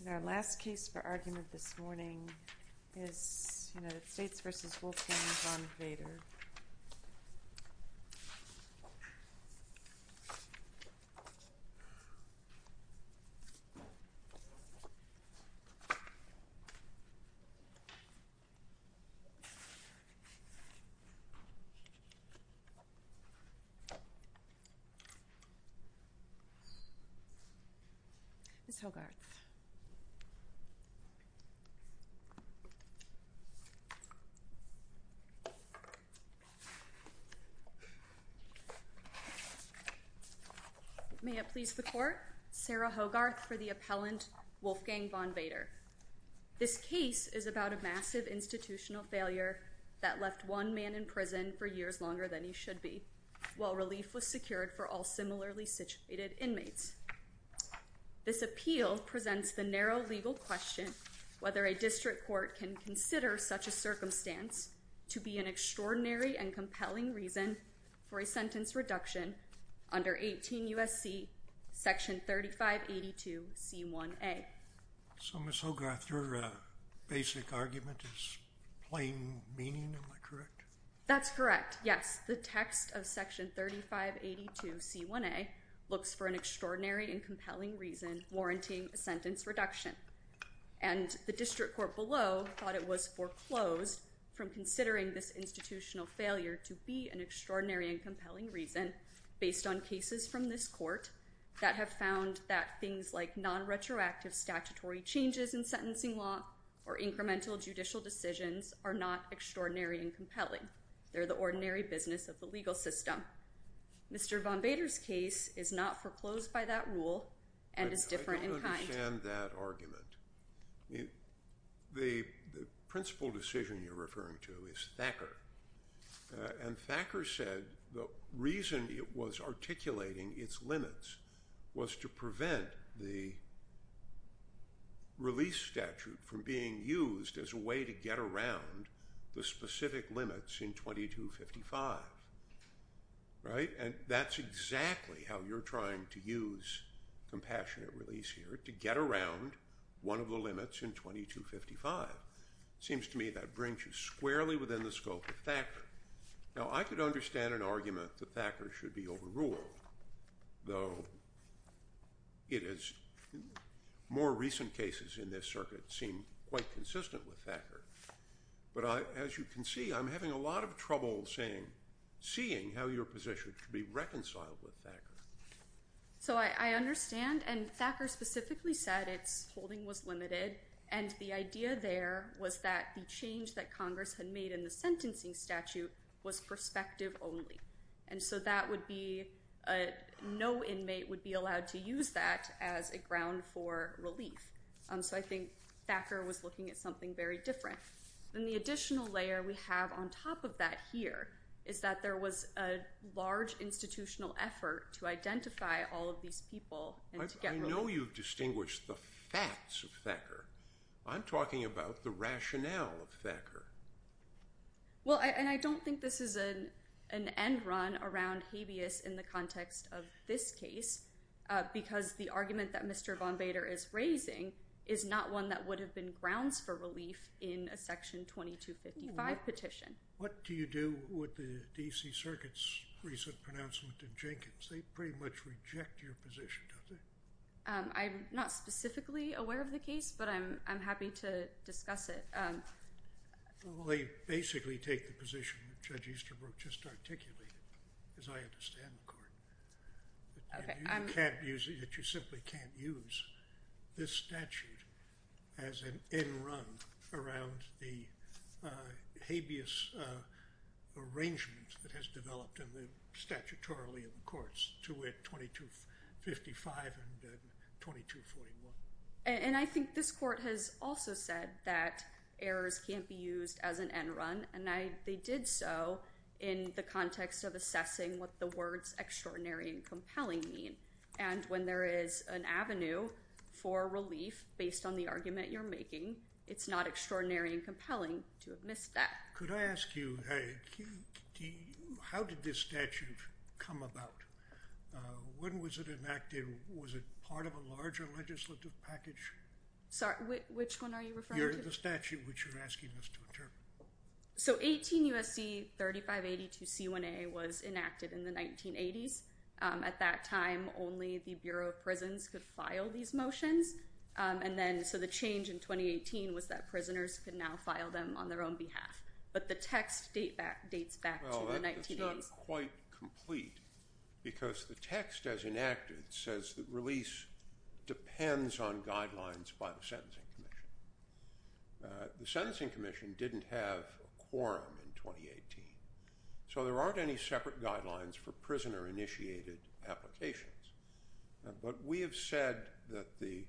And our last case for argument this morning is United States v. Wolfgang Von Vader. Ms. Hogarth. May it please the court, Sarah Hogarth for the appellant Wolfgang Von Vader. This case is about a massive institutional failure that left one man in prison for years longer than he should be, while relief was secured for all similarly situated inmates. This appeal presents the narrow legal question whether a district court can consider such a circumstance to be an extraordinary and compelling reason for a sentence reduction under 18 U.S.C. section 3582c1a. So Ms. Hogarth, your basic argument is plain meaning, am I correct? That's correct, yes. The text of section 3582c1a looks for an extraordinary and compelling reason warranting a sentence reduction. And the district court below thought it was foreclosed from considering this institutional failure to be an extraordinary and compelling reason based on cases from this court that have found that things like non-retroactive statutory changes in sentencing law or incremental judicial decisions are not extraordinary and compelling. They're the ordinary business of the legal system. Mr. Von Vader's case is not foreclosed by that rule and is different in kind. I don't understand that argument. And Thacker said the reason it was articulating its limits was to prevent the release statute from being used as a way to get around the specific limits in 2255. Right? And that's exactly how you're trying to use compassionate release here, to get around one of the limits in 2255. It seems to me that brings you squarely within the scope of Thacker. Now I could understand an argument that Thacker should be overruled, though more recent cases in this circuit seem quite consistent with Thacker. But as you can see, I'm having a lot of trouble seeing how your position could be reconciled with Thacker. So I understand. And Thacker specifically said its holding was limited. And the idea there was that the change that Congress had made in the sentencing statute was perspective only. And so that would be no inmate would be allowed to use that as a ground for relief. So I think Thacker was looking at something very different. And the additional layer we have on top of that here is that there was a large institutional effort to identify all of these people. I know you distinguish the facts of Thacker. I'm talking about the rationale of Thacker. Well, and I don't think this is an end run around habeas in the context of this case, because the argument that Mr. Von Bader is raising is not one that would have been grounds for relief in a section 2255 petition. What do you do with the D.C. Circuit's recent pronouncement in Jenkins? They pretty much reject your position, don't they? I'm not specifically aware of the case, but I'm happy to discuss it. Well, they basically take the position that Judge Easterbrook just articulated, as I understand the court, that you simply can't use this statute as an end run around the habeas arrangement that has developed statutorily in the courts to win 2255 and 2241. And I think this court has also said that errors can't be used as an end run, and they did so in the context of assessing what the words extraordinary and compelling mean. And when there is an avenue for relief based on the argument you're making, it's not extraordinary and compelling to have missed that. Could I ask you, how did this statute come about? When was it enacted? Was it part of a larger legislative package? Sorry, which one are you referring to? The statute which you're asking us to interpret. So 18 U.S.C. 3582 C1A was enacted in the 1980s. At that time, only the Bureau of Prisons could file these motions. And then so the change in 2018 was that prisoners could now file them on their own behalf. But the text dates back to the 1980s. They're not quite complete because the text as enacted says that release depends on guidelines by the Sentencing Commission. The Sentencing Commission didn't have a quorum in 2018. So there aren't any separate guidelines for prisoner-initiated applications. But we have said that the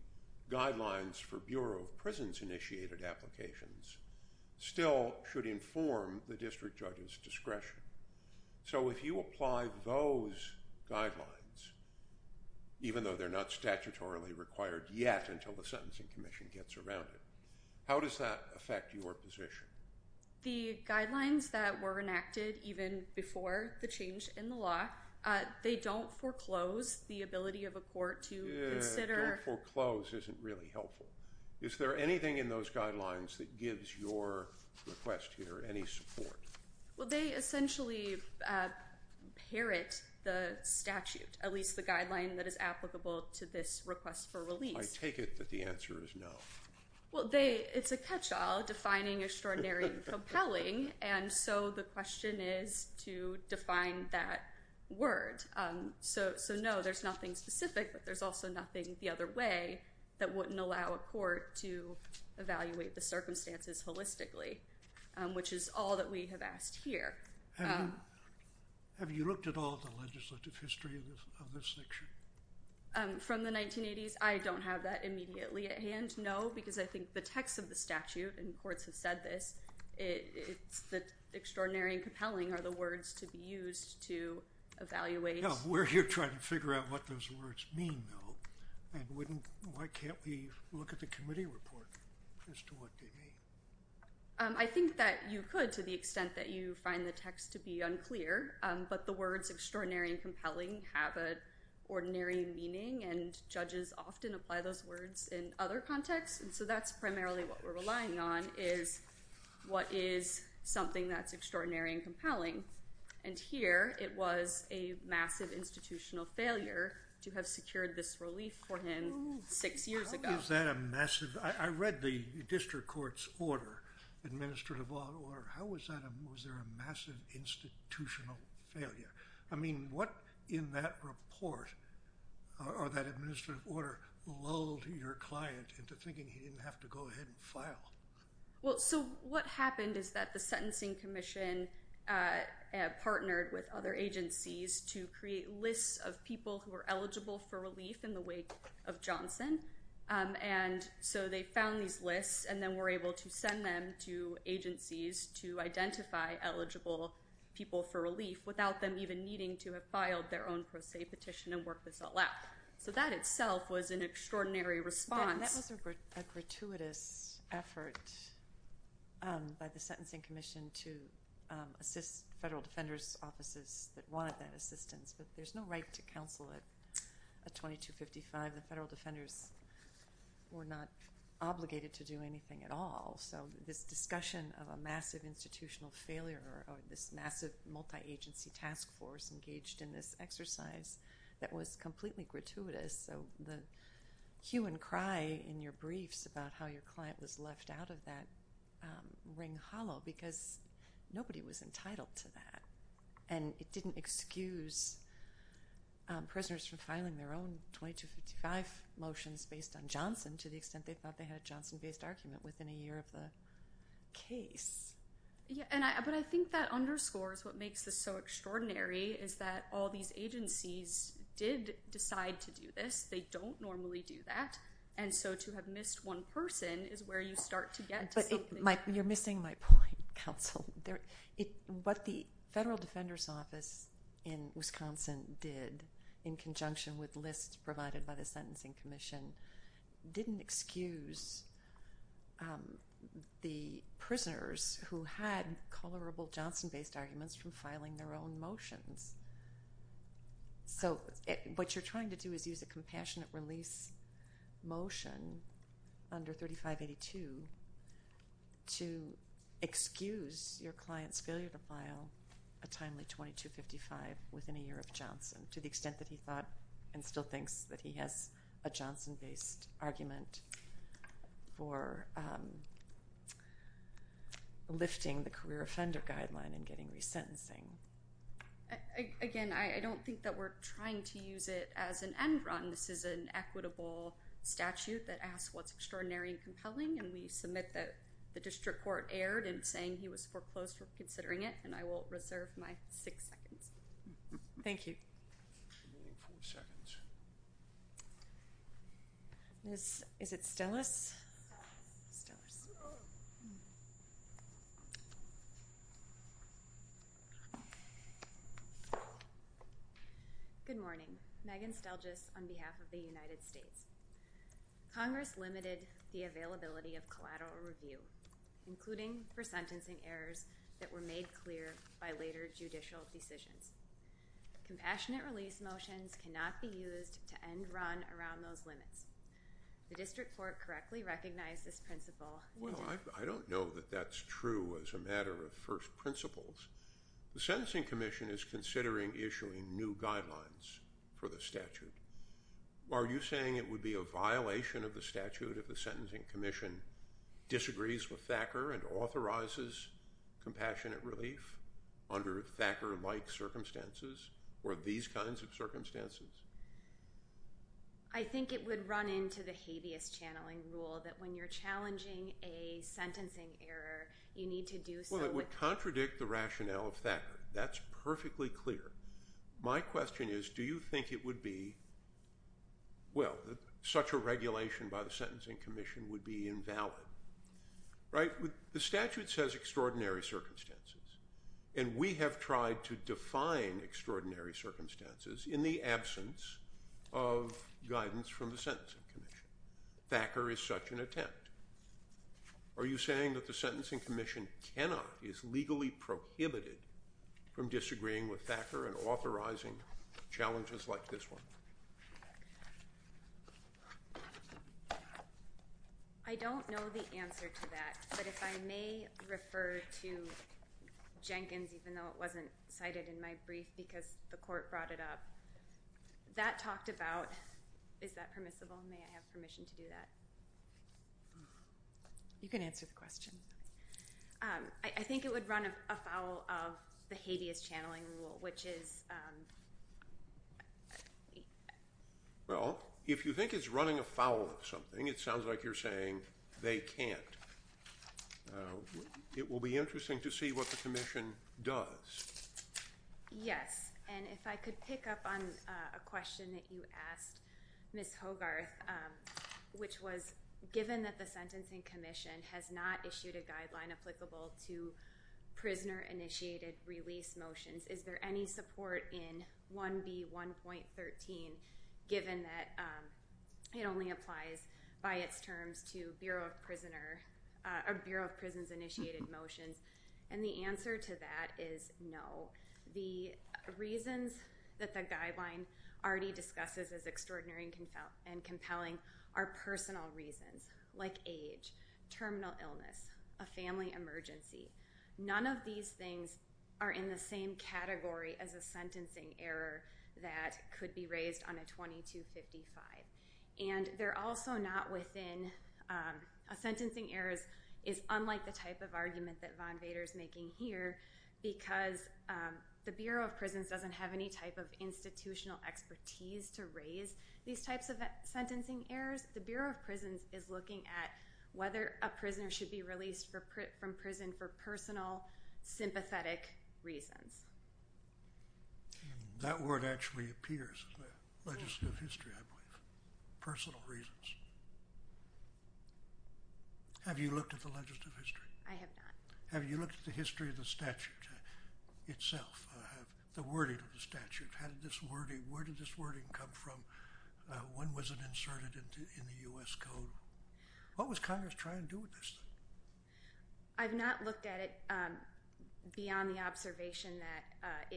guidelines for Bureau of Prisons-initiated applications still should inform the district judge's discretion. So if you apply those guidelines, even though they're not statutorily required yet until the Sentencing Commission gets around it, how does that affect your position? The guidelines that were enacted even before the change in the law, they don't foreclose the ability of a court to consider. Yeah, don't foreclose isn't really helpful. Is there anything in those guidelines that gives your request here any support? Well, they essentially parrot the statute, at least the guideline that is applicable to this request for release. I take it that the answer is no. Well, it's a catch-all, defining extraordinary and compelling, and so the question is to define that word. So no, there's nothing specific, but there's also nothing the other way that wouldn't allow a court to evaluate the circumstances holistically, which is all that we have asked here. Have you looked at all the legislative history of this section? From the 1980s? I don't have that immediately at hand. No, because I think the text of the statute, and courts have said this, it's that extraordinary and compelling are the words to be used to evaluate. No, we're here trying to figure out what those words mean, though, and why can't we look at the committee report as to what they mean? I think that you could, to the extent that you find the text to be unclear, but the words extraordinary and compelling have an ordinary meaning, and judges often apply those words in other contexts, and so that's primarily what we're relying on is what is something that's extraordinary and compelling, and here it was a massive institutional failure to have secured this relief for him six years ago. I read the district court's administrative order. How was there a massive institutional failure? I mean, what in that report or that administrative order lulled your client into thinking he didn't have to go ahead and file? Well, so what happened is that the Sentencing Commission partnered with other agencies to create lists of people who were eligible for relief in the wake of Johnson, and so they found these lists and then were able to send them to agencies to identify eligible people for relief without them even needing to have filed their own pro se petition and work this all out. So that itself was an extraordinary response. And that was a gratuitous effort by the Sentencing Commission to assist federal defenders' offices that wanted that assistance, but there's no right to counsel at 2255. The federal defenders were not obligated to do anything at all, so this discussion of a massive institutional failure or this massive multi-agency task force engaged in this exercise, that was completely gratuitous, so the hue and cry in your briefs about how your client was left out of that ring hollow because nobody was entitled to that. And it didn't excuse prisoners from filing their own 2255 motions based on Johnson to the extent they thought they had a Johnson-based argument within a year of the case. But I think that underscores what makes this so extraordinary is that all these agencies did decide to do this. They don't normally do that, and so to have missed one person is where you start to get to something. You're missing my point, counsel. What the federal defenders' office in Wisconsin did in conjunction with lists provided by the Sentencing Commission didn't excuse the prisoners who had comparable Johnson-based arguments from filing their own motions. So what you're trying to do is use a compassionate release motion under 3582 to excuse your client's failure to file a timely 2255 within a year of Johnson to the extent that he thought and still thinks that he has a Johnson-based argument for lifting the career offender guideline and getting resentencing. Again, I don't think that we're trying to use it as an end run. This is an equitable statute that asks what's extraordinary and compelling, and we submit that the district court erred in saying he was foreclosed for considering it, and I will reserve my six seconds. Thank you. Is it Stellis? Good morning. Megan Stellis on behalf of the United States. Congress limited the availability of collateral review, including for sentencing errors that were made clear by later judicial decisions. Compassionate release motions cannot be used to end run around those limits. The district court correctly recognized this principle. Well, I don't know that that's true as a matter of first principles. The Sentencing Commission is considering issuing new guidelines for the statute. Are you saying it would be a violation of the statute if the Sentencing Commission disagrees with Thacker and authorizes compassionate relief under Thacker-like circumstances or these kinds of circumstances? I think it would run into the habeas channeling rule that when you're challenging a sentencing error, you need to do so with— Well, it would contradict the rationale of Thacker. That's perfectly clear. My question is, do you think it would be—well, such a regulation by the Sentencing Commission would be invalid, right? The statute says extraordinary circumstances, and we have tried to define extraordinary circumstances in the absence of guidance from the Sentencing Commission. Thacker is such an attempt. Are you saying that the Sentencing Commission cannot, is legally prohibited from disagreeing with Thacker and authorizing challenges like this one? I don't know the answer to that, but if I may refer to Jenkins, even though it wasn't cited in my brief because the court brought it up. That talked about, is that permissible? May I have permission to do that? I think it would run afoul of the habeas channeling rule, which is— Well, if you think it's running afoul of something, it sounds like you're saying they can't. It will be interesting to see what the commission does. Yes, and if I could pick up on a question that you asked, Ms. Hogarth, which was, given that the Sentencing Commission has not issued a guideline applicable to prisoner-initiated release motions, is there any support in 1B.1.13, given that it only applies by its terms to Bureau of Prisons-initiated motions? And the answer to that is no. The reasons that the guideline already discusses as extraordinary and compelling are personal reasons, like age, terminal illness, a family emergency. None of these things are in the same category as a sentencing error that could be raised on a 2255. And they're also not within—a sentencing error is unlike the type of argument that Von Vader is making here, because the Bureau of Prisons doesn't have any type of institutional expertise to raise these types of sentencing errors. The Bureau of Prisons is looking at whether a prisoner should be released from prison for personal, sympathetic reasons. That word actually appears in the legislative history, I believe. Personal reasons. Have you looked at the legislative history? I have not. Have you looked at the history of the statute itself, the wording of the statute? How did this wording—where did this wording come from? When was it inserted in the U.S. Code? What was Congress trying to do with this? I've not looked at it beyond the observation that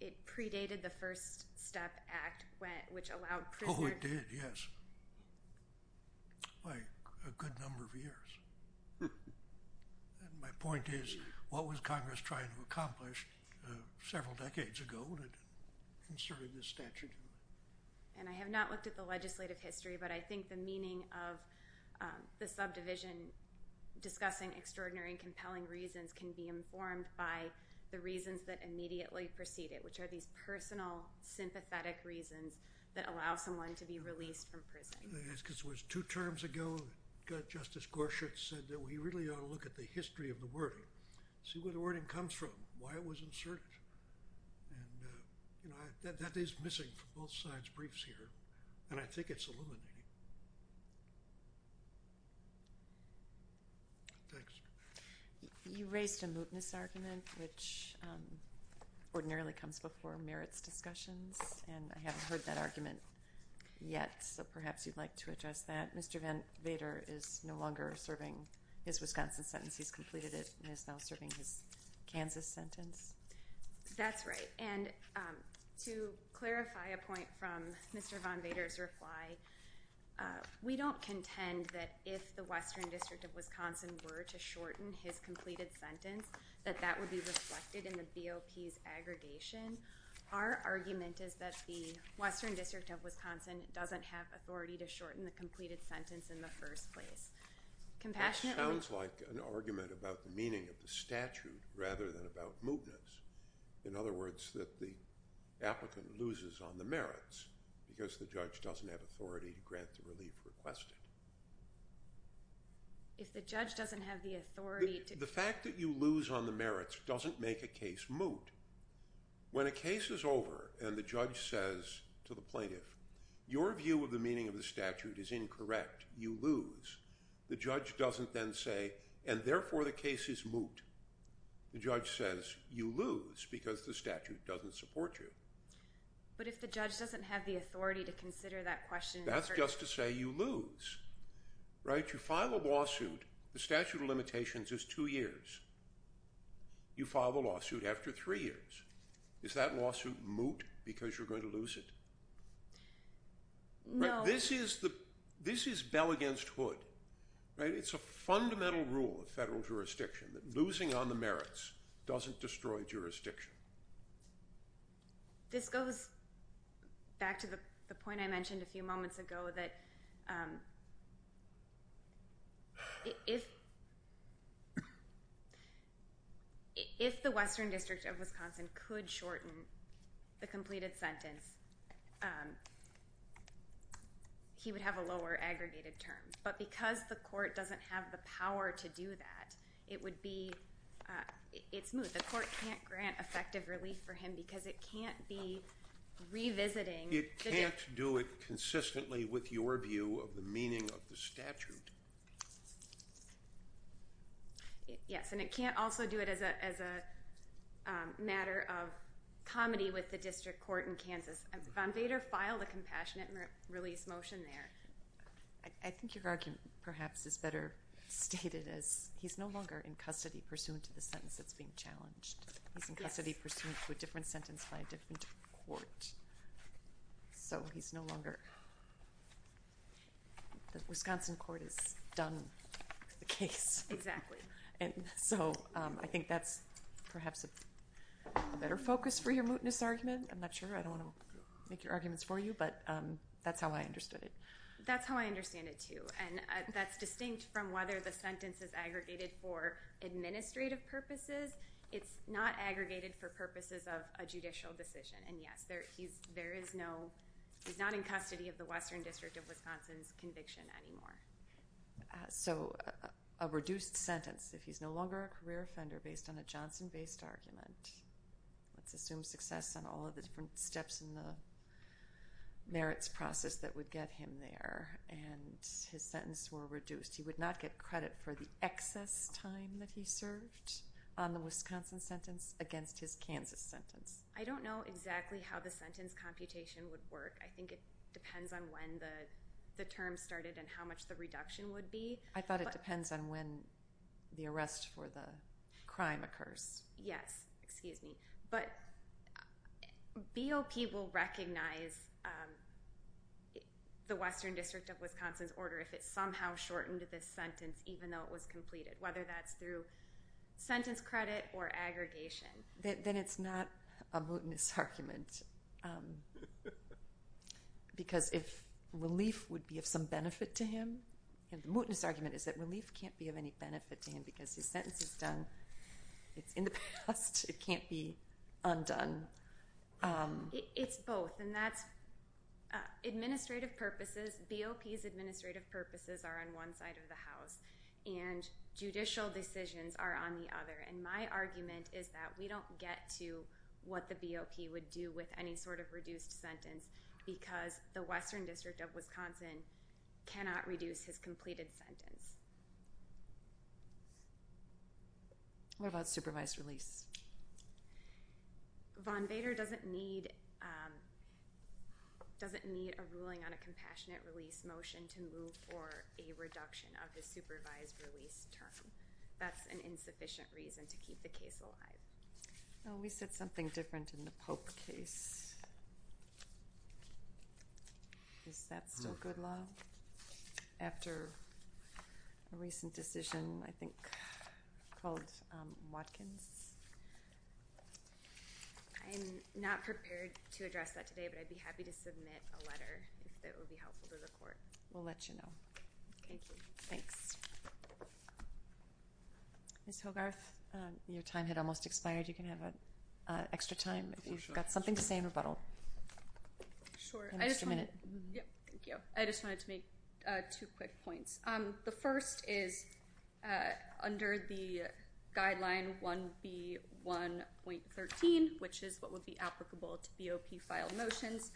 it predated the First Step Act, which allowed prisoners— Oh, it did, yes. By a good number of years. My point is, what was Congress trying to accomplish several decades ago when it inserted this statute? And I have not looked at the legislative history, but I think the meaning of the subdivision discussing extraordinary and compelling reasons can be informed by the reasons that immediately precede it, which are these personal, sympathetic reasons that allow someone to be released from prison. Two terms ago, Justice Gorsuch said that we really ought to look at the history of the wording, see where the wording comes from, why it was inserted. That is missing from both sides' briefs here, and I think it's illuminating. Thanks. You raised a mootness argument, which ordinarily comes before merits discussions, and I haven't heard that argument yet, so perhaps you'd like to address that. Mr. von Vader is no longer serving his Wisconsin sentence. He's completed it and is now serving his Kansas sentence. That's right, and to clarify a point from Mr. von Vader's reply, we don't contend that if the Western District of Wisconsin were to shorten his completed sentence, that that would be reflected in the BOP's aggregation. Our argument is that the Western District of Wisconsin doesn't have authority to shorten the completed sentence in the first place. It sounds like an argument about the meaning of the statute rather than about mootness, in other words, that the applicant loses on the merits because the judge doesn't have authority to grant the relief requested. If the judge doesn't have the authority to do that. The fact that you lose on the merits doesn't make a case moot. When a case is over and the judge says to the plaintiff, your view of the meaning of the statute is incorrect, you lose, the judge doesn't then say, and therefore the case is moot. The judge says you lose because the statute doesn't support you. But if the judge doesn't have the authority to consider that question. That's just to say you lose, right? You file a lawsuit, the statute of limitations is two years. You file the lawsuit after three years. Is that lawsuit moot because you're going to lose it? No. This is bell against hood, right? It's a fundamental rule of federal jurisdiction, that losing on the merits doesn't destroy jurisdiction. This goes back to the point I mentioned a few moments ago, that if the Western District of Wisconsin could shorten the completed sentence, he would have a lower aggregated term. But because the court doesn't have the power to do that, it would be, it's moot. The court can't grant effective relief for him because it can't be revisiting. It can't do it consistently with your view of the meaning of the statute. Yes, and it can't also do it as a matter of comedy with the district court in Kansas. Von Vader filed a compassionate release motion there. I think your argument perhaps is better stated as he's no longer in custody pursuant to the sentence that's being challenged. Yes. He's in custody pursuant to a different sentence by a different court. So he's no longer, the Wisconsin court has done the case. Exactly. And so I think that's perhaps a better focus for your mootness argument. I'm not sure. I don't want to make your arguments for you, but that's how I understood it. That's how I understand it too. And that's distinct from whether the sentence is aggregated for administrative purposes. It's not aggregated for purposes of a judicial decision. And, yes, he's not in custody of the Western District of Wisconsin's conviction anymore. So a reduced sentence if he's no longer a career offender based on a Johnson-based argument. Let's assume success on all of the different steps in the merits process that would get him there. And his sentence were reduced. He would not get credit for the excess time that he served on the Wisconsin sentence against his Kansas sentence. I don't know exactly how the sentence computation would work. I think it depends on when the term started and how much the reduction would be. I thought it depends on when the arrest for the crime occurs. Yes. Excuse me. But BOP will recognize the Western District of Wisconsin's order if it somehow shortened this sentence even though it was completed, whether that's through sentence credit or aggregation. Then it's not a mootness argument because if relief would be of some benefit to him, the mootness argument is that relief can't be of any benefit to him because his sentence is done. It's in the past. It can't be undone. It's both. And that's administrative purposes. BOP's administrative purposes are on one side of the house, and judicial decisions are on the other. And my argument is that we don't get to what the BOP would do with any sort of reduced sentence because the Western District of Wisconsin cannot reduce his completed sentence. What about supervised release? Von Vader doesn't need a ruling on a compassionate release motion to move for a reduction of the supervised release term. That's an insufficient reason to keep the case alive. We said something different in the Pope case. Is that still good law? After a recent decision, I think, called Watkins? I'm not prepared to address that today, but I'd be happy to submit a letter if it would be helpful to the court. We'll let you know. Thank you. Thanks. Ms. Hogarth, your time had almost expired. You can have extra time if you've got something to say in rebuttal. Sure. I just wanted to make two quick points. The first is under the guideline 1B1.13, which is what would be applicable to BOP filed motions.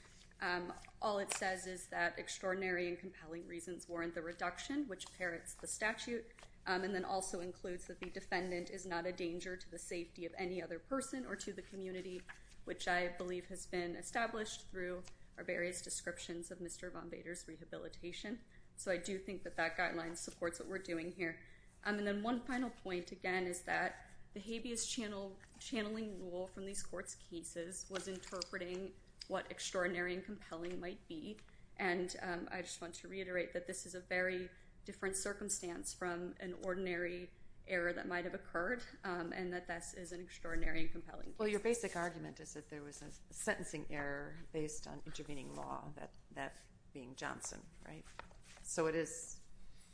All it says is that extraordinary and compelling reasons warrant the reduction, which parents the statute, and then also includes that the defendant is not a danger to the safety of any other person or to the community, which I believe has been established through our various descriptions of Mr. Von Bader's rehabilitation. So I do think that that guideline supports what we're doing here. And then one final point, again, is that the habeas channel channeling rule from these courts cases was interpreting what extraordinary and compelling might be. And I just want to reiterate that this is a very different circumstance from an ordinary error that might have occurred and that this is an extraordinary and compelling. Well, your basic argument is that there was a sentencing error based on intervening law, that being Johnson, right? So it is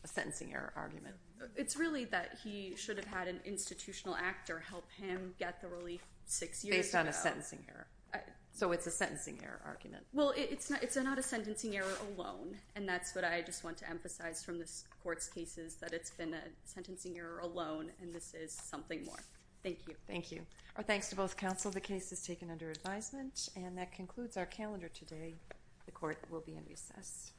a sentencing error argument. It's really that he should have had an institutional actor help him get the relief six years ago. Based on a sentencing error. So it's a sentencing error argument. Well, it's not a sentencing error alone, and that's what I just want to emphasize from this court's cases, that it's been a sentencing error alone, and this is something more. Thank you. Thank you. Our thanks to both counsel. The case is taken under advisement. And that concludes our calendar today. The court will be in recess.